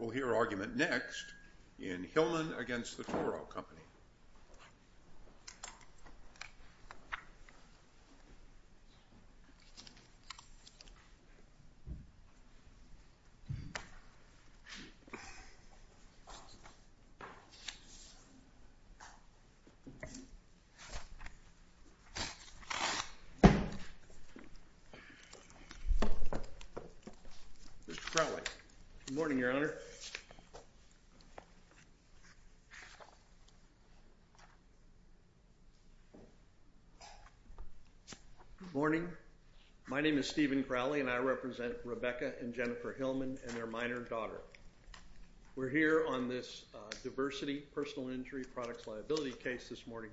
We'll hear argument next in Hillman v. Toro Company. Good morning, Your Honor. Good morning. My name is Stephen Crowley and I represent Rebekah and Jennifer Hillman and their minor daughter. We're here on this diversity personal injury products liability case this morning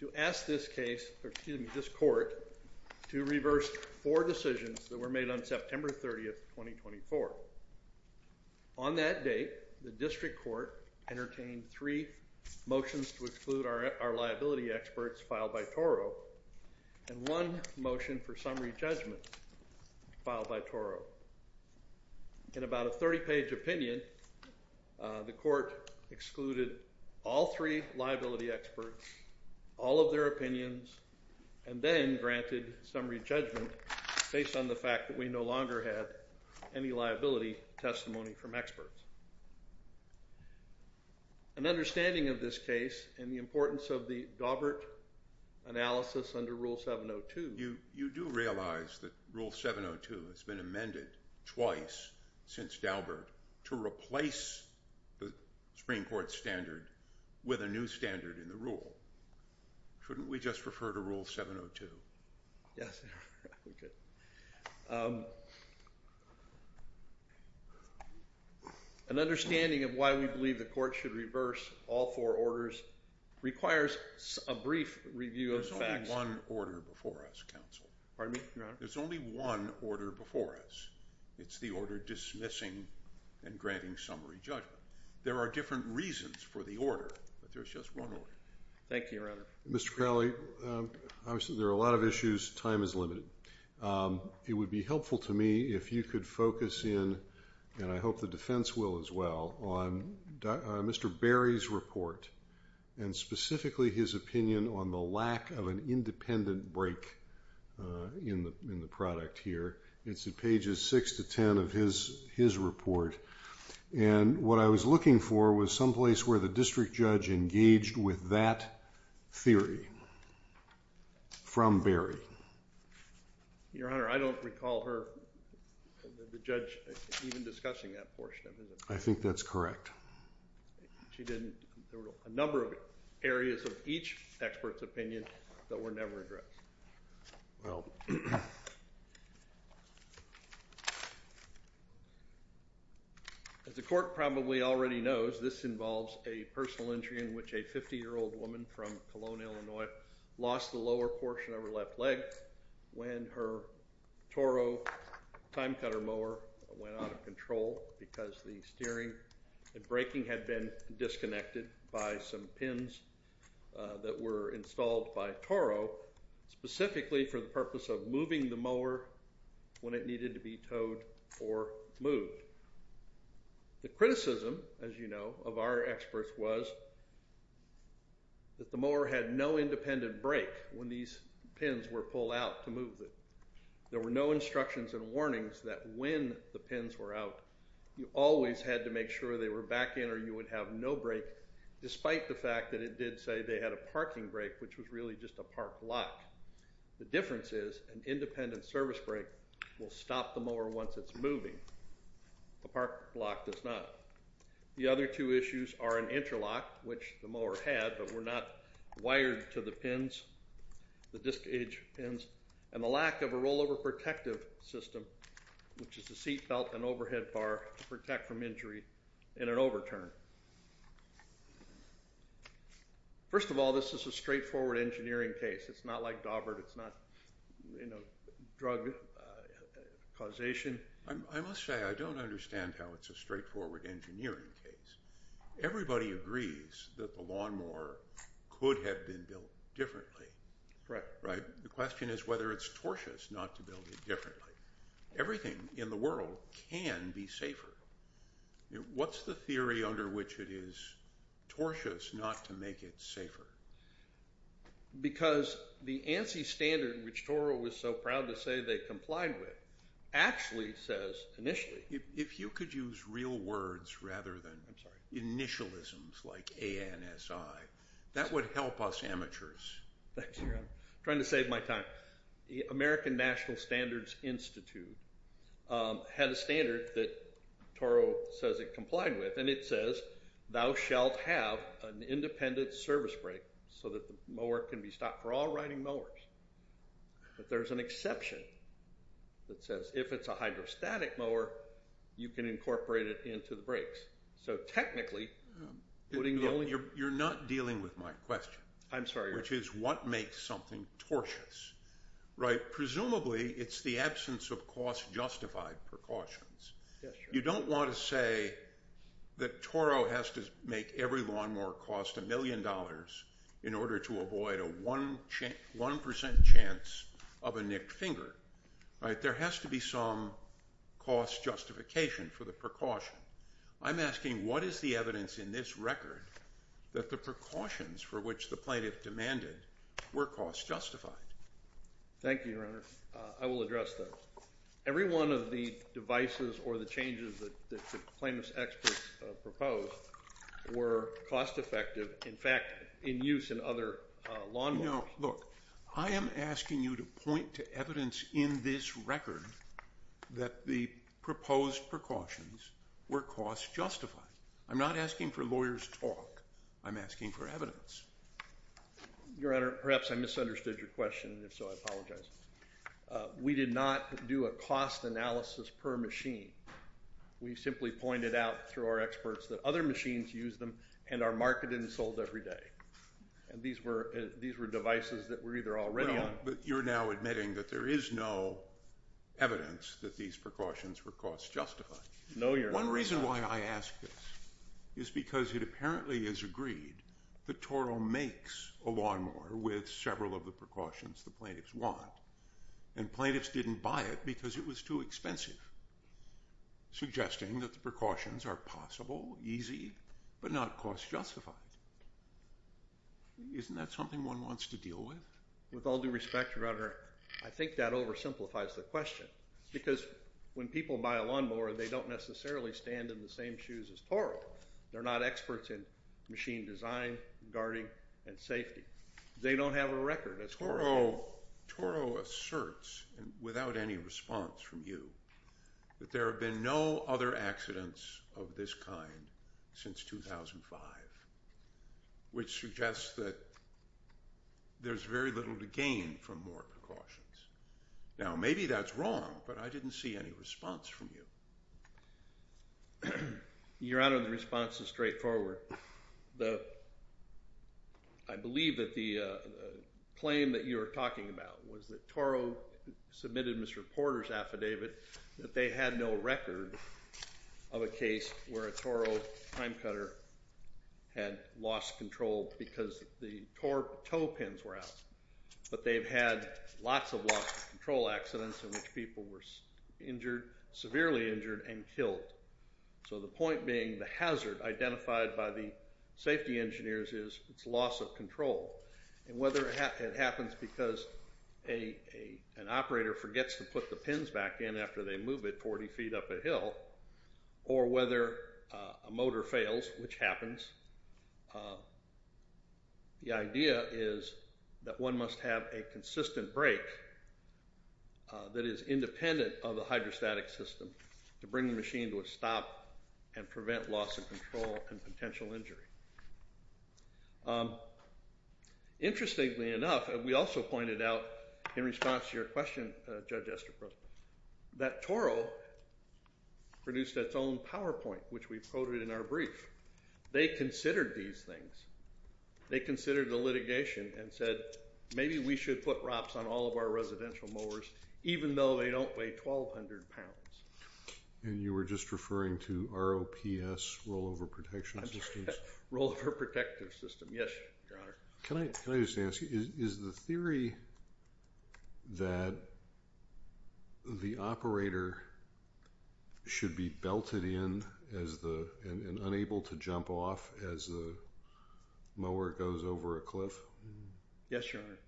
to ask this case, or excuse me, this court to reverse four decisions that were made on September 30, 2024. On that date, the district court entertained three motions to exclude our liability experts filed by Toro and one motion for summary judgment filed by Toro. In about a 30-page opinion, the court excluded all three liability experts, all of their opinions, and then granted summary judgment based on the fact that we no longer had any liability testimony from experts. An understanding of this case and the importance of the Daubert analysis under Rule 702. You do realize that Rule 702 has been amended twice since Daubert to replace the Supreme Court standard with a new standard in the rule. Shouldn't we just refer to Rule 702? Yes, Your Honor. An understanding of why we believe the court should reverse all four orders requires a brief review of facts. There's only one order before us, counsel. Pardon me, Your Honor? There's only one order before us. It's the order dismissing and granting summary judgment. There are different reasons for the order, but there's just one order. Thank you, Your Honor. Mr. Crowley, there are a lot of issues. Time is limited. It would be helpful to me if you could focus in, and I hope the defense will as well, on Mr. Berry's report and specifically his opinion on the lack of an independent break in the product here. It's in pages 6 to 10 of his report. And what I was looking for was someplace where the district judge engaged with that theory from Berry. Your Honor, I don't recall her, the judge, even discussing that portion of it. I think that's correct. She didn't. There were a number of areas of each expert's opinion that were never addressed. Well, as the court probably already knows, this involves a personal injury in which a 50-year-old woman from Cologne, Illinois, lost the lower portion of her left leg when her Toro time cutter mower went out of control because the steering and braking had been disconnected by some pins that were installed by Toro. Specifically for the purpose of moving the mower when it needed to be towed or moved. The criticism, as you know, of our experts was that the mower had no independent brake when these pins were pulled out to move it. There were no instructions and warnings that when the pins were out, you always had to make sure they were back in or you would have no brake, despite the fact that it did say they had a parking brake, which was really just a park block. The difference is an independent service brake will stop the mower once it's moving. A park block does not. The other two issues are an interlock, which the mower had but were not wired to the pins, the disc edge pins, and the lack of a rollover protective system, which is a seat belt and overhead bar to protect from injury in an overturn. First of all, this is a straightforward engineering case. It's not like Daubert. It's not, you know, drug causation. I must say, I don't understand how it's a straightforward engineering case. Everybody agrees that the lawnmower could have been built differently. Right. The question is whether it's tortious not to build it differently. Everything in the world can be safer. What's the theory under which it is tortious not to make it safer? Because the ANSI standard, which Toro was so proud to say they complied with, actually says initially. If you could use real words rather than initialisms like ANSI, that would help us amateurs. I'm trying to save my time. The American National Standards Institute had a standard that Toro says it complied with, and it says thou shalt have an independent service brake so that the mower can be stopped. We're all riding mowers. But there's an exception that says if it's a hydrostatic mower, you can incorporate it into the brakes. You're not dealing with my question. I'm sorry. Which is what makes something tortious? Presumably it's the absence of cost justified precautions. You don't want to say that Toro has to make every lawnmower cost a million dollars in order to avoid a 1% chance of a nicked finger. There has to be some cost justification for the precaution. I'm asking what is the evidence in this record that the precautions for which the plaintiff demanded were cost justified? Thank you, Your Honor. I will address that. Every one of the devices or the changes that the plaintiff's experts proposed were cost effective, in fact, in use in other lawnmowers. No, look, I am asking you to point to evidence in this record that the proposed precautions were cost justified. I'm not asking for lawyers' talk. I'm asking for evidence. Your Honor, perhaps I misunderstood your question, and if so, I apologize. We did not do a cost analysis per machine. We simply pointed out through our experts that other machines use them and are marketed and sold every day. And these were devices that were either already on. But you're now admitting that there is no evidence that these precautions were cost justified. No, Your Honor. One reason why I ask this is because it apparently is agreed that Toro makes a lawnmower with several of the precautions the plaintiffs want, and plaintiffs didn't buy it because it was too expensive, suggesting that the precautions are possible, easy, but not cost justified. Isn't that something one wants to deal with? With all due respect, Your Honor, I think that oversimplifies the question because when people buy a lawnmower, they don't necessarily stand in the same shoes as Toro. They're not experts in machine design, guarding, and safety. They don't have a record as Toro does. So Toro asserts, without any response from you, that there have been no other accidents of this kind since 2005, which suggests that there's very little to gain from more precautions. Now, maybe that's wrong, but I didn't see any response from you. Your Honor, the response is straightforward. I believe that the claim that you were talking about was that Toro submitted Mr. Porter's affidavit, that they had no record of a case where a Toro time cutter had lost control because the tow pins were out. But they've had lots of loss of control accidents in which people were injured, severely injured, and killed. So the point being the hazard identified by the safety engineers is it's loss of control. And whether it happens because an operator forgets to put the pins back in after they move it 40 feet up a hill, or whether a motor fails, which happens, the idea is that one must have a consistent brake that is independent of the hydrostatic system to bring the machine to a stop and prevent loss of control and potential injury. Interestingly enough, we also pointed out in response to your question, Judge Estepra, that Toro produced its own PowerPoint, which we quoted in our brief. They considered these things. They considered the litigation and said, maybe we should put ROPS on all of our residential mowers, even though they don't weigh 1,200 pounds. And you were just referring to ROPS, rollover protection systems? Rollover protective system, yes, Your Honor. Can I just ask, is the theory that the operator should be belted in and unable to jump off as the mower goes over a cliff? Yes, Your Honor.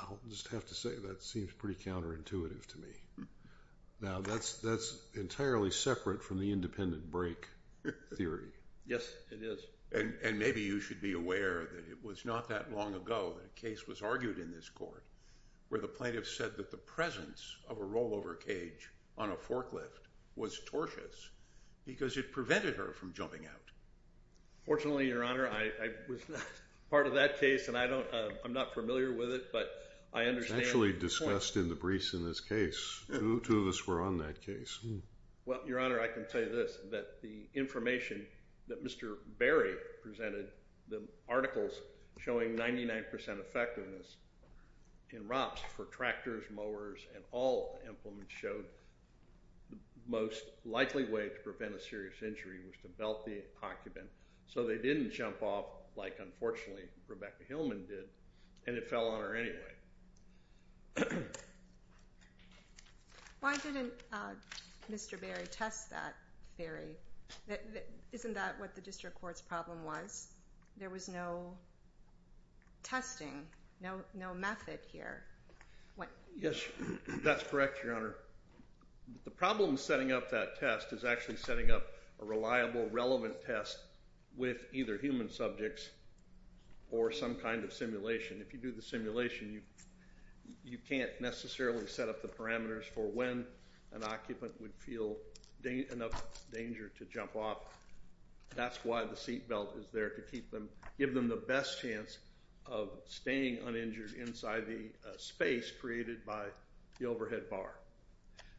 I'll just have to say that seems pretty counterintuitive to me. Now, that's entirely separate from the independent brake theory. Yes, it is. And maybe you should be aware that it was not that long ago that a case was argued in this court where the plaintiff said that the presence of a rollover cage on a forklift was tortuous because it prevented her from jumping out. Fortunately, Your Honor, I was not part of that case, and I'm not familiar with it, but I understand the point. It was actually discussed in the briefs in this case. Two of us were on that case. Well, Your Honor, I can tell you this, that the information that Mr. Berry presented, the articles showing 99% effectiveness in ROPS for tractors, mowers, and all implements, showed the most likely way to prevent a serious injury was to belt the occupant so they didn't jump off like, unfortunately, Rebecca Hillman did, and it fell on her anyway. Why didn't Mr. Berry test that theory? Isn't that what the district court's problem was? There was no testing, no method here. Yes, that's correct, Your Honor. The problem setting up that test is actually setting up a reliable, relevant test with either human subjects or some kind of simulation. If you do the simulation, you can't necessarily set up the parameters for when an occupant would feel enough danger to jump off. That's why the seat belt is there to give them the best chance of staying uninjured inside the space created by the overhead bar.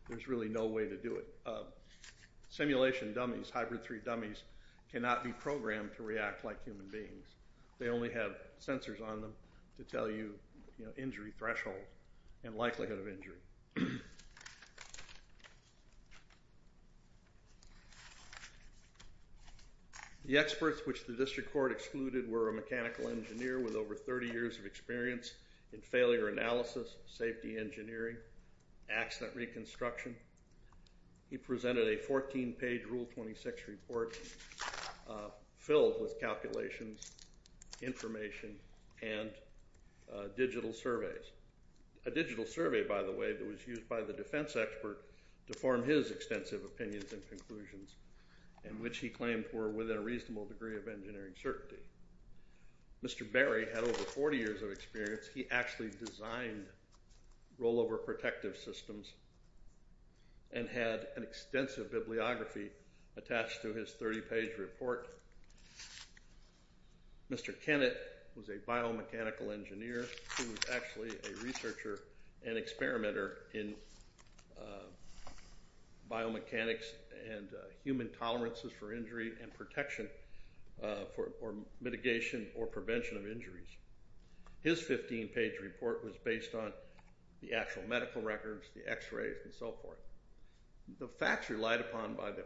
There's really no way to do it. Simulation dummies, hybrid 3 dummies, cannot be programmed to react like human beings. They only have sensors on them to tell you injury threshold and likelihood of injury. The experts which the district court excluded were a mechanical engineer with over 30 years of experience in failure analysis, safety engineering, accident reconstruction. He presented a 14-page Rule 26 report filled with calculations, information, and digital surveys. A digital survey, by the way, that was used by the defense expert to form his extensive opinions and conclusions in which he claimed were within a reasonable degree of engineering certainty. Mr. Berry had over 40 years of experience. He actually designed rollover protective systems and had an extensive bibliography attached to his 30-page report. Mr. Kennett was a biomechanical engineer who was actually a researcher and experimenter in biomechanics and human tolerances for injury and protection for mitigation or prevention of injuries. His 15-page report was based on the actual medical records, the x-rays, and so forth. The facts relied upon by the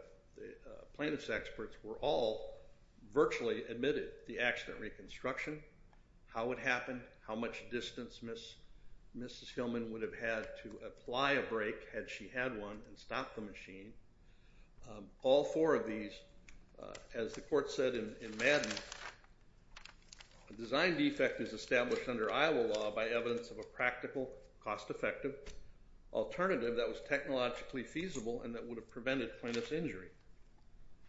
plaintiff's experts were all virtually admitted. The accident reconstruction, how it happened, how much distance Mrs. Hillman would have had to apply a brake had she had one and stopped the machine, all four of these. As the court said in Madden, a design defect is established under Iowa law by evidence of a practical, cost-effective alternative that was technologically feasible and that would have prevented plaintiff's injury.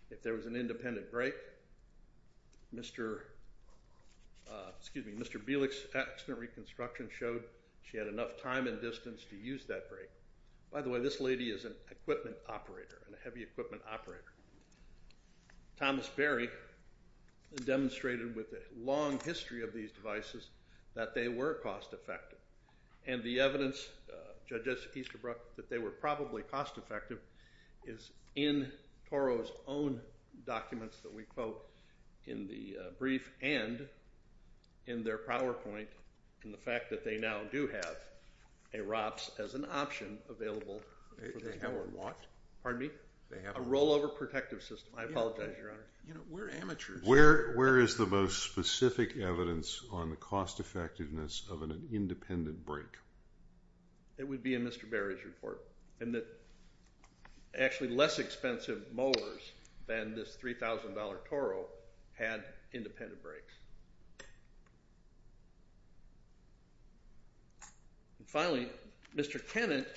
If there was an independent brake, Mr. Belick's accident reconstruction showed she had enough time and distance to use that brake. By the way, this lady is an equipment operator, a heavy equipment operator. Thomas Berry demonstrated with a long history of these devices that they were cost-effective, and the evidence, Judge Easterbrook, that they were probably cost-effective is in Toro's own documents that we quote in the brief and in their PowerPoint, and the fact that they now do have a ROPS as an option available. They have a what? Pardon me? A rollover protective system. I apologize, Your Honor. We're amateurs. Where is the most specific evidence on the cost-effectiveness of an independent brake? It would be in Mr. Berry's report, and that actually less expensive mowers than this $3,000 Toro had independent brakes. Finally, Mr. Kennett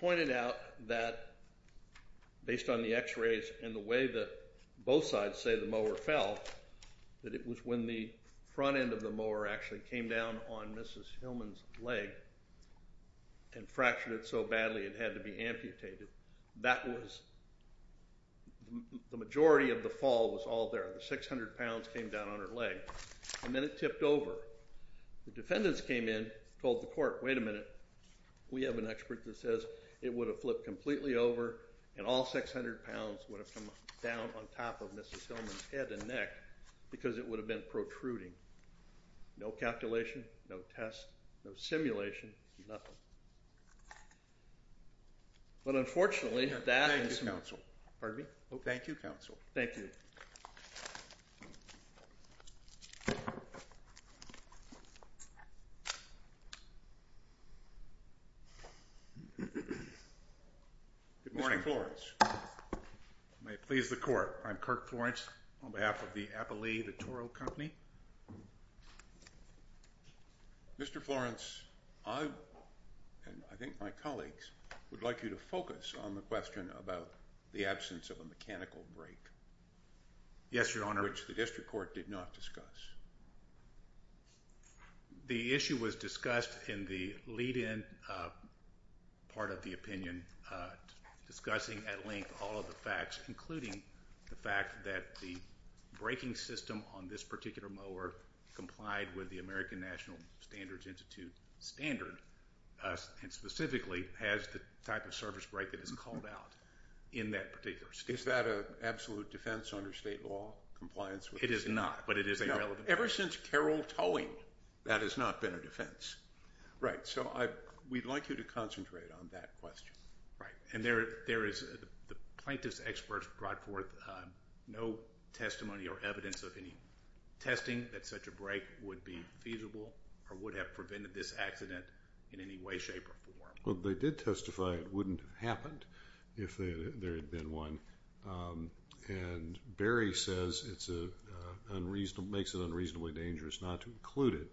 pointed out that based on the x-rays and the way that both sides say the mower fell, that it was when the front end of the mower actually came down on Mrs. Hillman's leg and fractured it so badly it had to be amputated. That was the majority of the fall was all there. The 600 pounds came down on her leg, and then it tipped over. The defendants came in, told the court, wait a minute. We have an expert that says it would have flipped completely over, and all 600 pounds would have come down on top of Mrs. Hillman's head and neck because it would have been protruding. No calculation, no test, no simulation, nothing. But unfortunately, that is. Thank you, Counsel. Pardon me? Thank you, Counsel. Thank you. Good morning, Florence. May it please the court. I'm Kirk Florence on behalf of the Appalee, the Toro Company. Mr. Florence, I and I think my colleagues would like you to focus on the question about the absence of a mechanical break. Yes, Your Honor. Which the district court did not discuss. The issue was discussed in the lead-in part of the opinion, discussing at length all of the facts, including the fact that the braking system on this particular mower complied with the American National Standards Institute standard and specifically has the type of surface brake that is called out in that particular state. Is that an absolute defense under state law, compliance? It is not, but it is a relevant question. Ever since Carroll Towing, that has not been a defense. Right. So we'd like you to concentrate on that question. Right. And the plaintiff's experts brought forth no testimony or evidence of any testing that such a brake would be feasible or would have prevented this accident in any way, shape, or form. Well, they did testify it wouldn't have happened if there had been one. And Barry says it makes it unreasonably dangerous not to include it.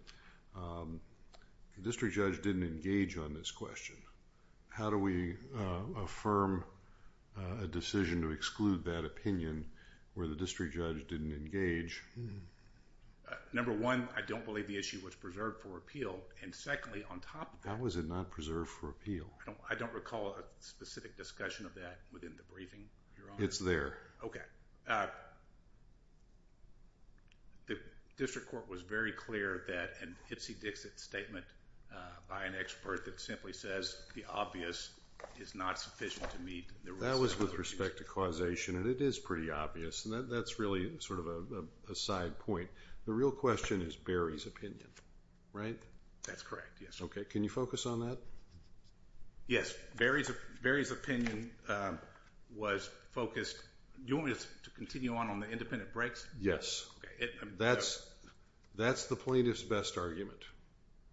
The district judge didn't engage on this question. How do we affirm a decision to exclude that opinion where the district judge didn't engage? Number one, I don't believe the issue was preserved for appeal. And secondly, on top of that. How was it not preserved for appeal? I don't recall a specific discussion of that within the briefing, Your Honor. It's there. Okay. The district court was very clear that an ipsy-dixit statement by an expert that simply says the obvious is not sufficient to meet the rules. That was with respect to causation, and it is pretty obvious. And that's really sort of a side point. The real question is Barry's opinion, right? That's correct, yes. Okay. Can you focus on that? Yes. Barry's opinion was focused. Do you want me to continue on on the independent brakes? Yes. That's the plaintiff's best argument.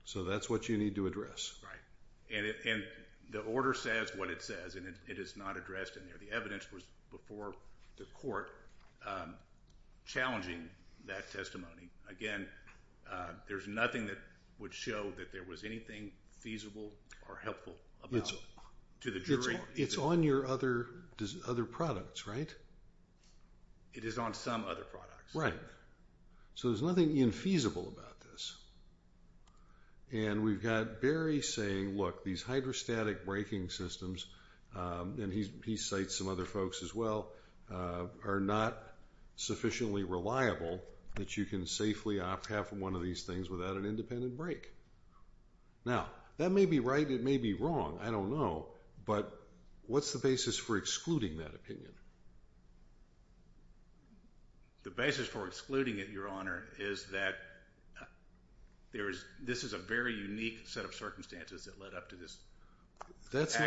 So that's what you need to address. Right. And the order says what it says, and it is not addressed in there. The evidence was before the court challenging that testimony. Again, there's nothing that would show that there was anything feasible or helpful about it to the jury. It's on your other products, right? It is on some other products. Right. So there's nothing infeasible about this. And we've got Barry saying, look, these hydrostatic braking systems, and he cites some other folks as well, are not sufficiently reliable that you can safely opt half of one of these things without an independent brake. Now, that may be right. It may be wrong. I don't know. But what's the basis for excluding that opinion? The basis for excluding it, Your Honor, is that this is a very unique set of circumstances that led up to this. That's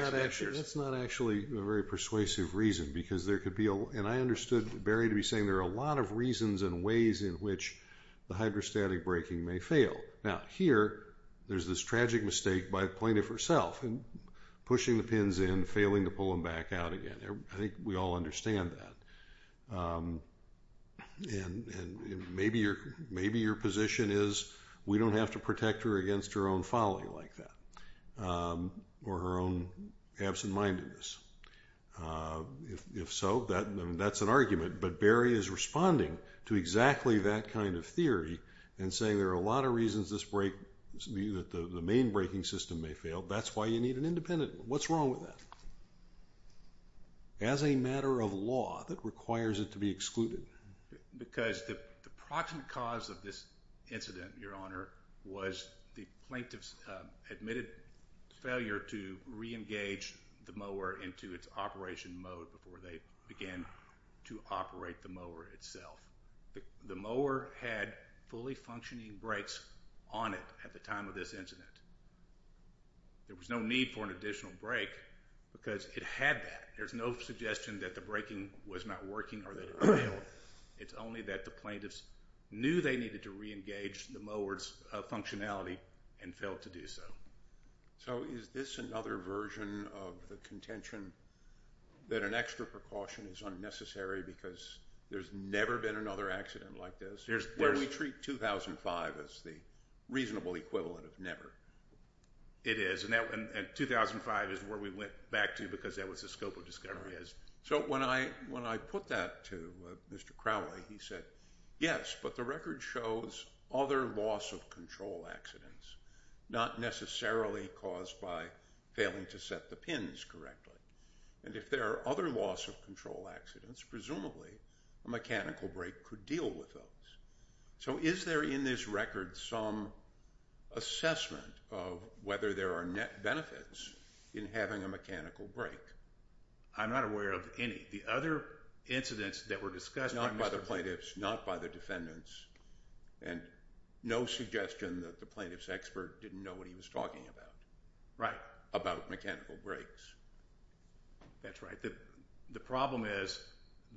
not actually a very persuasive reason because there could be, and I understood Barry to be saying there are a lot of reasons and ways in which the hydrostatic braking may fail. Now, here, there's this tragic mistake by the plaintiff herself, pushing the pins in, failing to pull them back out again. I think we all understand that. And maybe your position is we don't have to protect her against her own folly like that or her own absent-mindedness. If so, then that's an argument. But Barry is responding to exactly that kind of theory and saying there are a lot of reasons that the main braking system may fail. That's why you need an independent one. What's wrong with that as a matter of law that requires it to be excluded? Because the proximate cause of this incident, Your Honor, was the plaintiff's admitted failure to reengage the mower into its operation mode before they began to operate the mower itself. The mower had fully functioning brakes on it at the time of this incident. There was no need for an additional brake because it had that. There's no suggestion that the braking was not working or that it failed. It's only that the plaintiffs knew they needed to reengage the mower's functionality and failed to do so. So is this another version of the contention that an extra precaution is unnecessary because there's never been another accident like this? Where we treat 2005 as the reasonable equivalent of never. It is. And 2005 is where we went back to because that was the scope of discovery. So when I put that to Mr. Crowley, he said, yes, but the record shows other loss of control accidents, not necessarily caused by failing to set the pins correctly. And if there are other loss of control accidents, presumably a mechanical brake could deal with those. So is there in this record some assessment of whether there are net benefits in having a mechanical brake? I'm not aware of any. The other incidents that were discussed by Mr. Crowley. Not by the plaintiffs, not by the defendants, and no suggestion that the plaintiff's expert didn't know what he was talking about. Right. About mechanical brakes. That's right. The problem is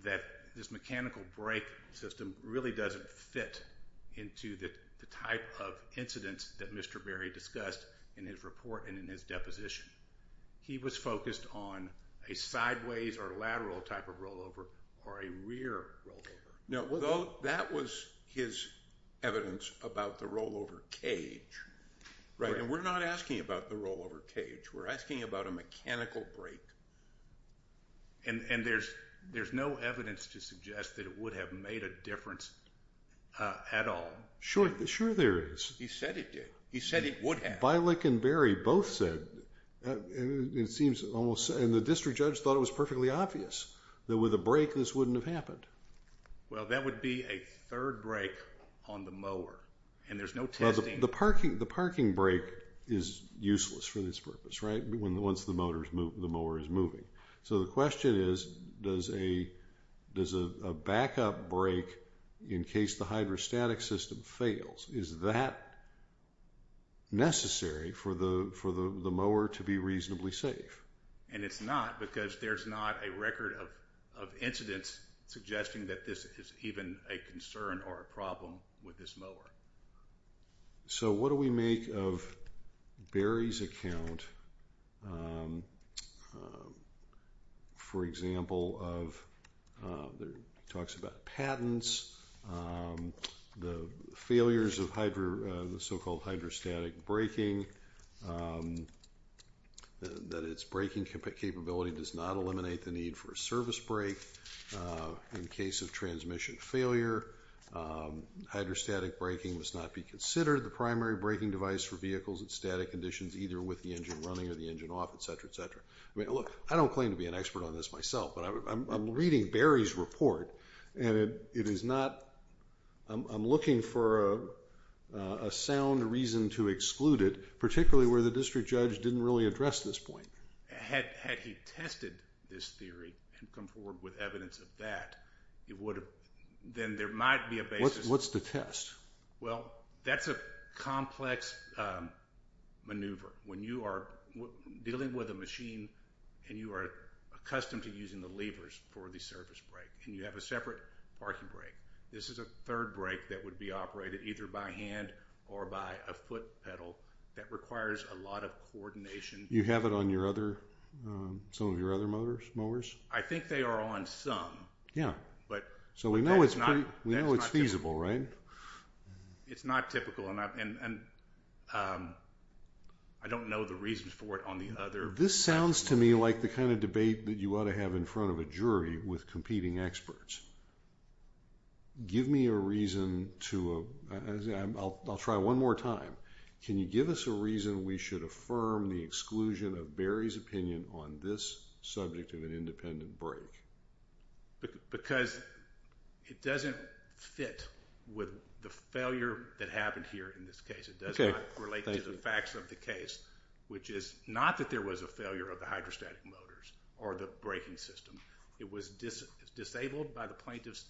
that this mechanical brake system really doesn't fit into the type of incidents that Mr. Berry discussed in his report and in his deposition. He was focused on a sideways or lateral type of rollover or a rear rollover. That was his evidence about the rollover cage. Right. And we're not asking about the rollover cage. We're asking about a mechanical brake. And there's no evidence to suggest that it would have made a difference at all. Sure. Sure there is. He said it did. He said it would have. Vilek and Berry both said, and it seems almost, and the district judge thought it was perfectly obvious that with a brake this wouldn't have happened. Well, that would be a third brake on the mower. And there's no testing. The parking brake is useless for this purpose, right, once the mower is moving. So the question is, does a backup brake in case the hydrostatic system fails, is that necessary for the mower to be reasonably safe? And it's not because there's not a record of incidents suggesting that this is even a concern or a problem with this mower. So what do we make of Berry's account, for example, of, talks about patents, the failures of the so-called hydrostatic braking, that its braking capability does not eliminate the need for a service brake in case of transmission failure. Hydrostatic braking must not be considered the primary braking device for vehicles in static conditions either with the engine running or the engine off, et cetera, et cetera. I mean, look, I don't claim to be an expert on this myself, but I'm reading Berry's report, and it is not, I'm looking for a sound reason to exclude it, particularly where the district judge didn't really address this point. Had he tested this theory and come forward with evidence of that, it would have, then there might be a basis. What's the test? Well, that's a complex maneuver. When you are dealing with a machine, and you are accustomed to using the levers for the service brake, and you have a separate parking brake, this is a third brake that would be operated either by hand or by a foot pedal that requires a lot of coordination. You have it on your other, some of your other motors, mowers? I think they are on some. Yeah. So we know it's feasible, right? It's not typical, and I don't know the reasons for it on the other. This sounds to me like the kind of debate that you ought to have in front of a jury with competing experts. Give me a reason to, I'll try one more time. Can you give us a reason we should affirm the exclusion of Barry's opinion on this subject of an independent brake? Because it doesn't fit with the failure that happened here in this case. It does not relate to the facts of the case, which is not that there was a failure of the hydrostatic motors or the braking system. It was disabled by the plaintiffs,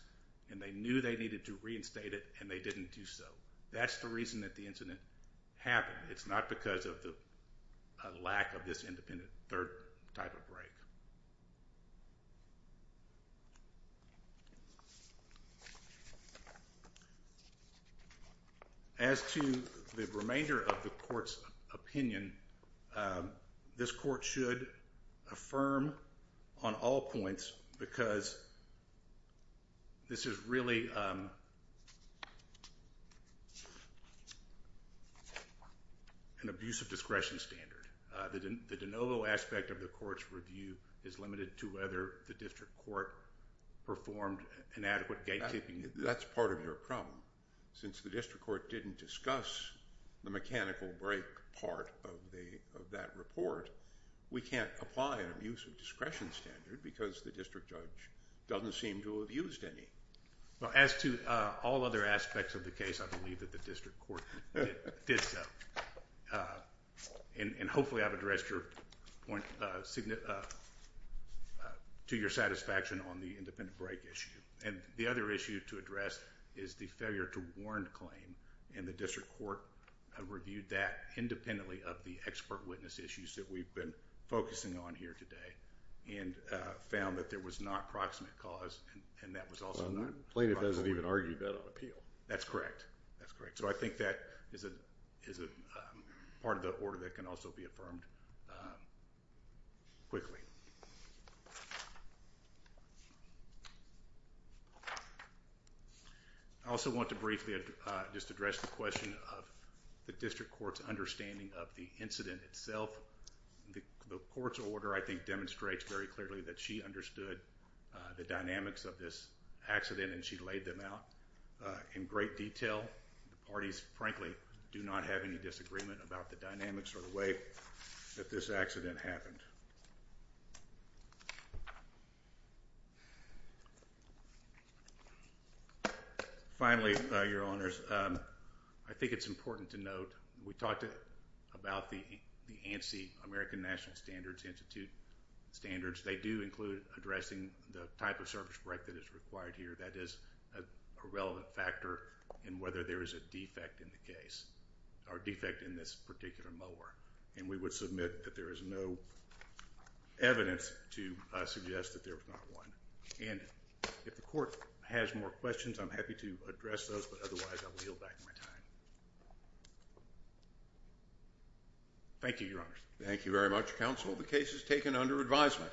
and they knew they needed to reinstate it, and they didn't do so. That's the reason that the incident happened. It's not because of the lack of this independent third type of brake. As to the remainder of the court's opinion, this court should affirm on all points because this is really an abuse of discretion standard. The de novo aspect of the court's review is limited to whether the district court performed an adequate gatekeeping. That's part of your problem. Since the district court didn't discuss the mechanical brake part of that report, we can't apply an abuse of discretion standard because the district judge doesn't seem to have used any. Well, as to all other aspects of the case, I believe that the district court did so. And hopefully I've addressed your point to your satisfaction on the independent brake issue. And the other issue to address is the failure to warrant claim, and the district court reviewed that independently of the expert witness issues that we've been focusing on here today. And found that there was not proximate cause. And that was also not proximate. Plaintiff doesn't even argue that on appeal. That's correct. That's correct. So I think that is a part of the order that can also be affirmed quickly. I also want to briefly just address the question of the district court's understanding of the incident itself. The court's order, I think, demonstrates very clearly that she understood the dynamics of this accident and she laid them out in great detail. The parties, frankly, do not have any disagreement about the dynamics or the way that this accident happened. Finally, Your Honors, I think it's important to note that we talked about the ANSI, American National Standards Institute standards. They do include addressing the type of surface brake that is required here. That is a relevant factor in whether there is a defect in the case, or defect in this particular mower. And we would submit that there is no evidence to suggest that there was not one. And if the court has more questions, I'm happy to address those. But otherwise, I will yield back my time. Thank you, Your Honors. Thank you very much, Counsel. The case is taken under advisement.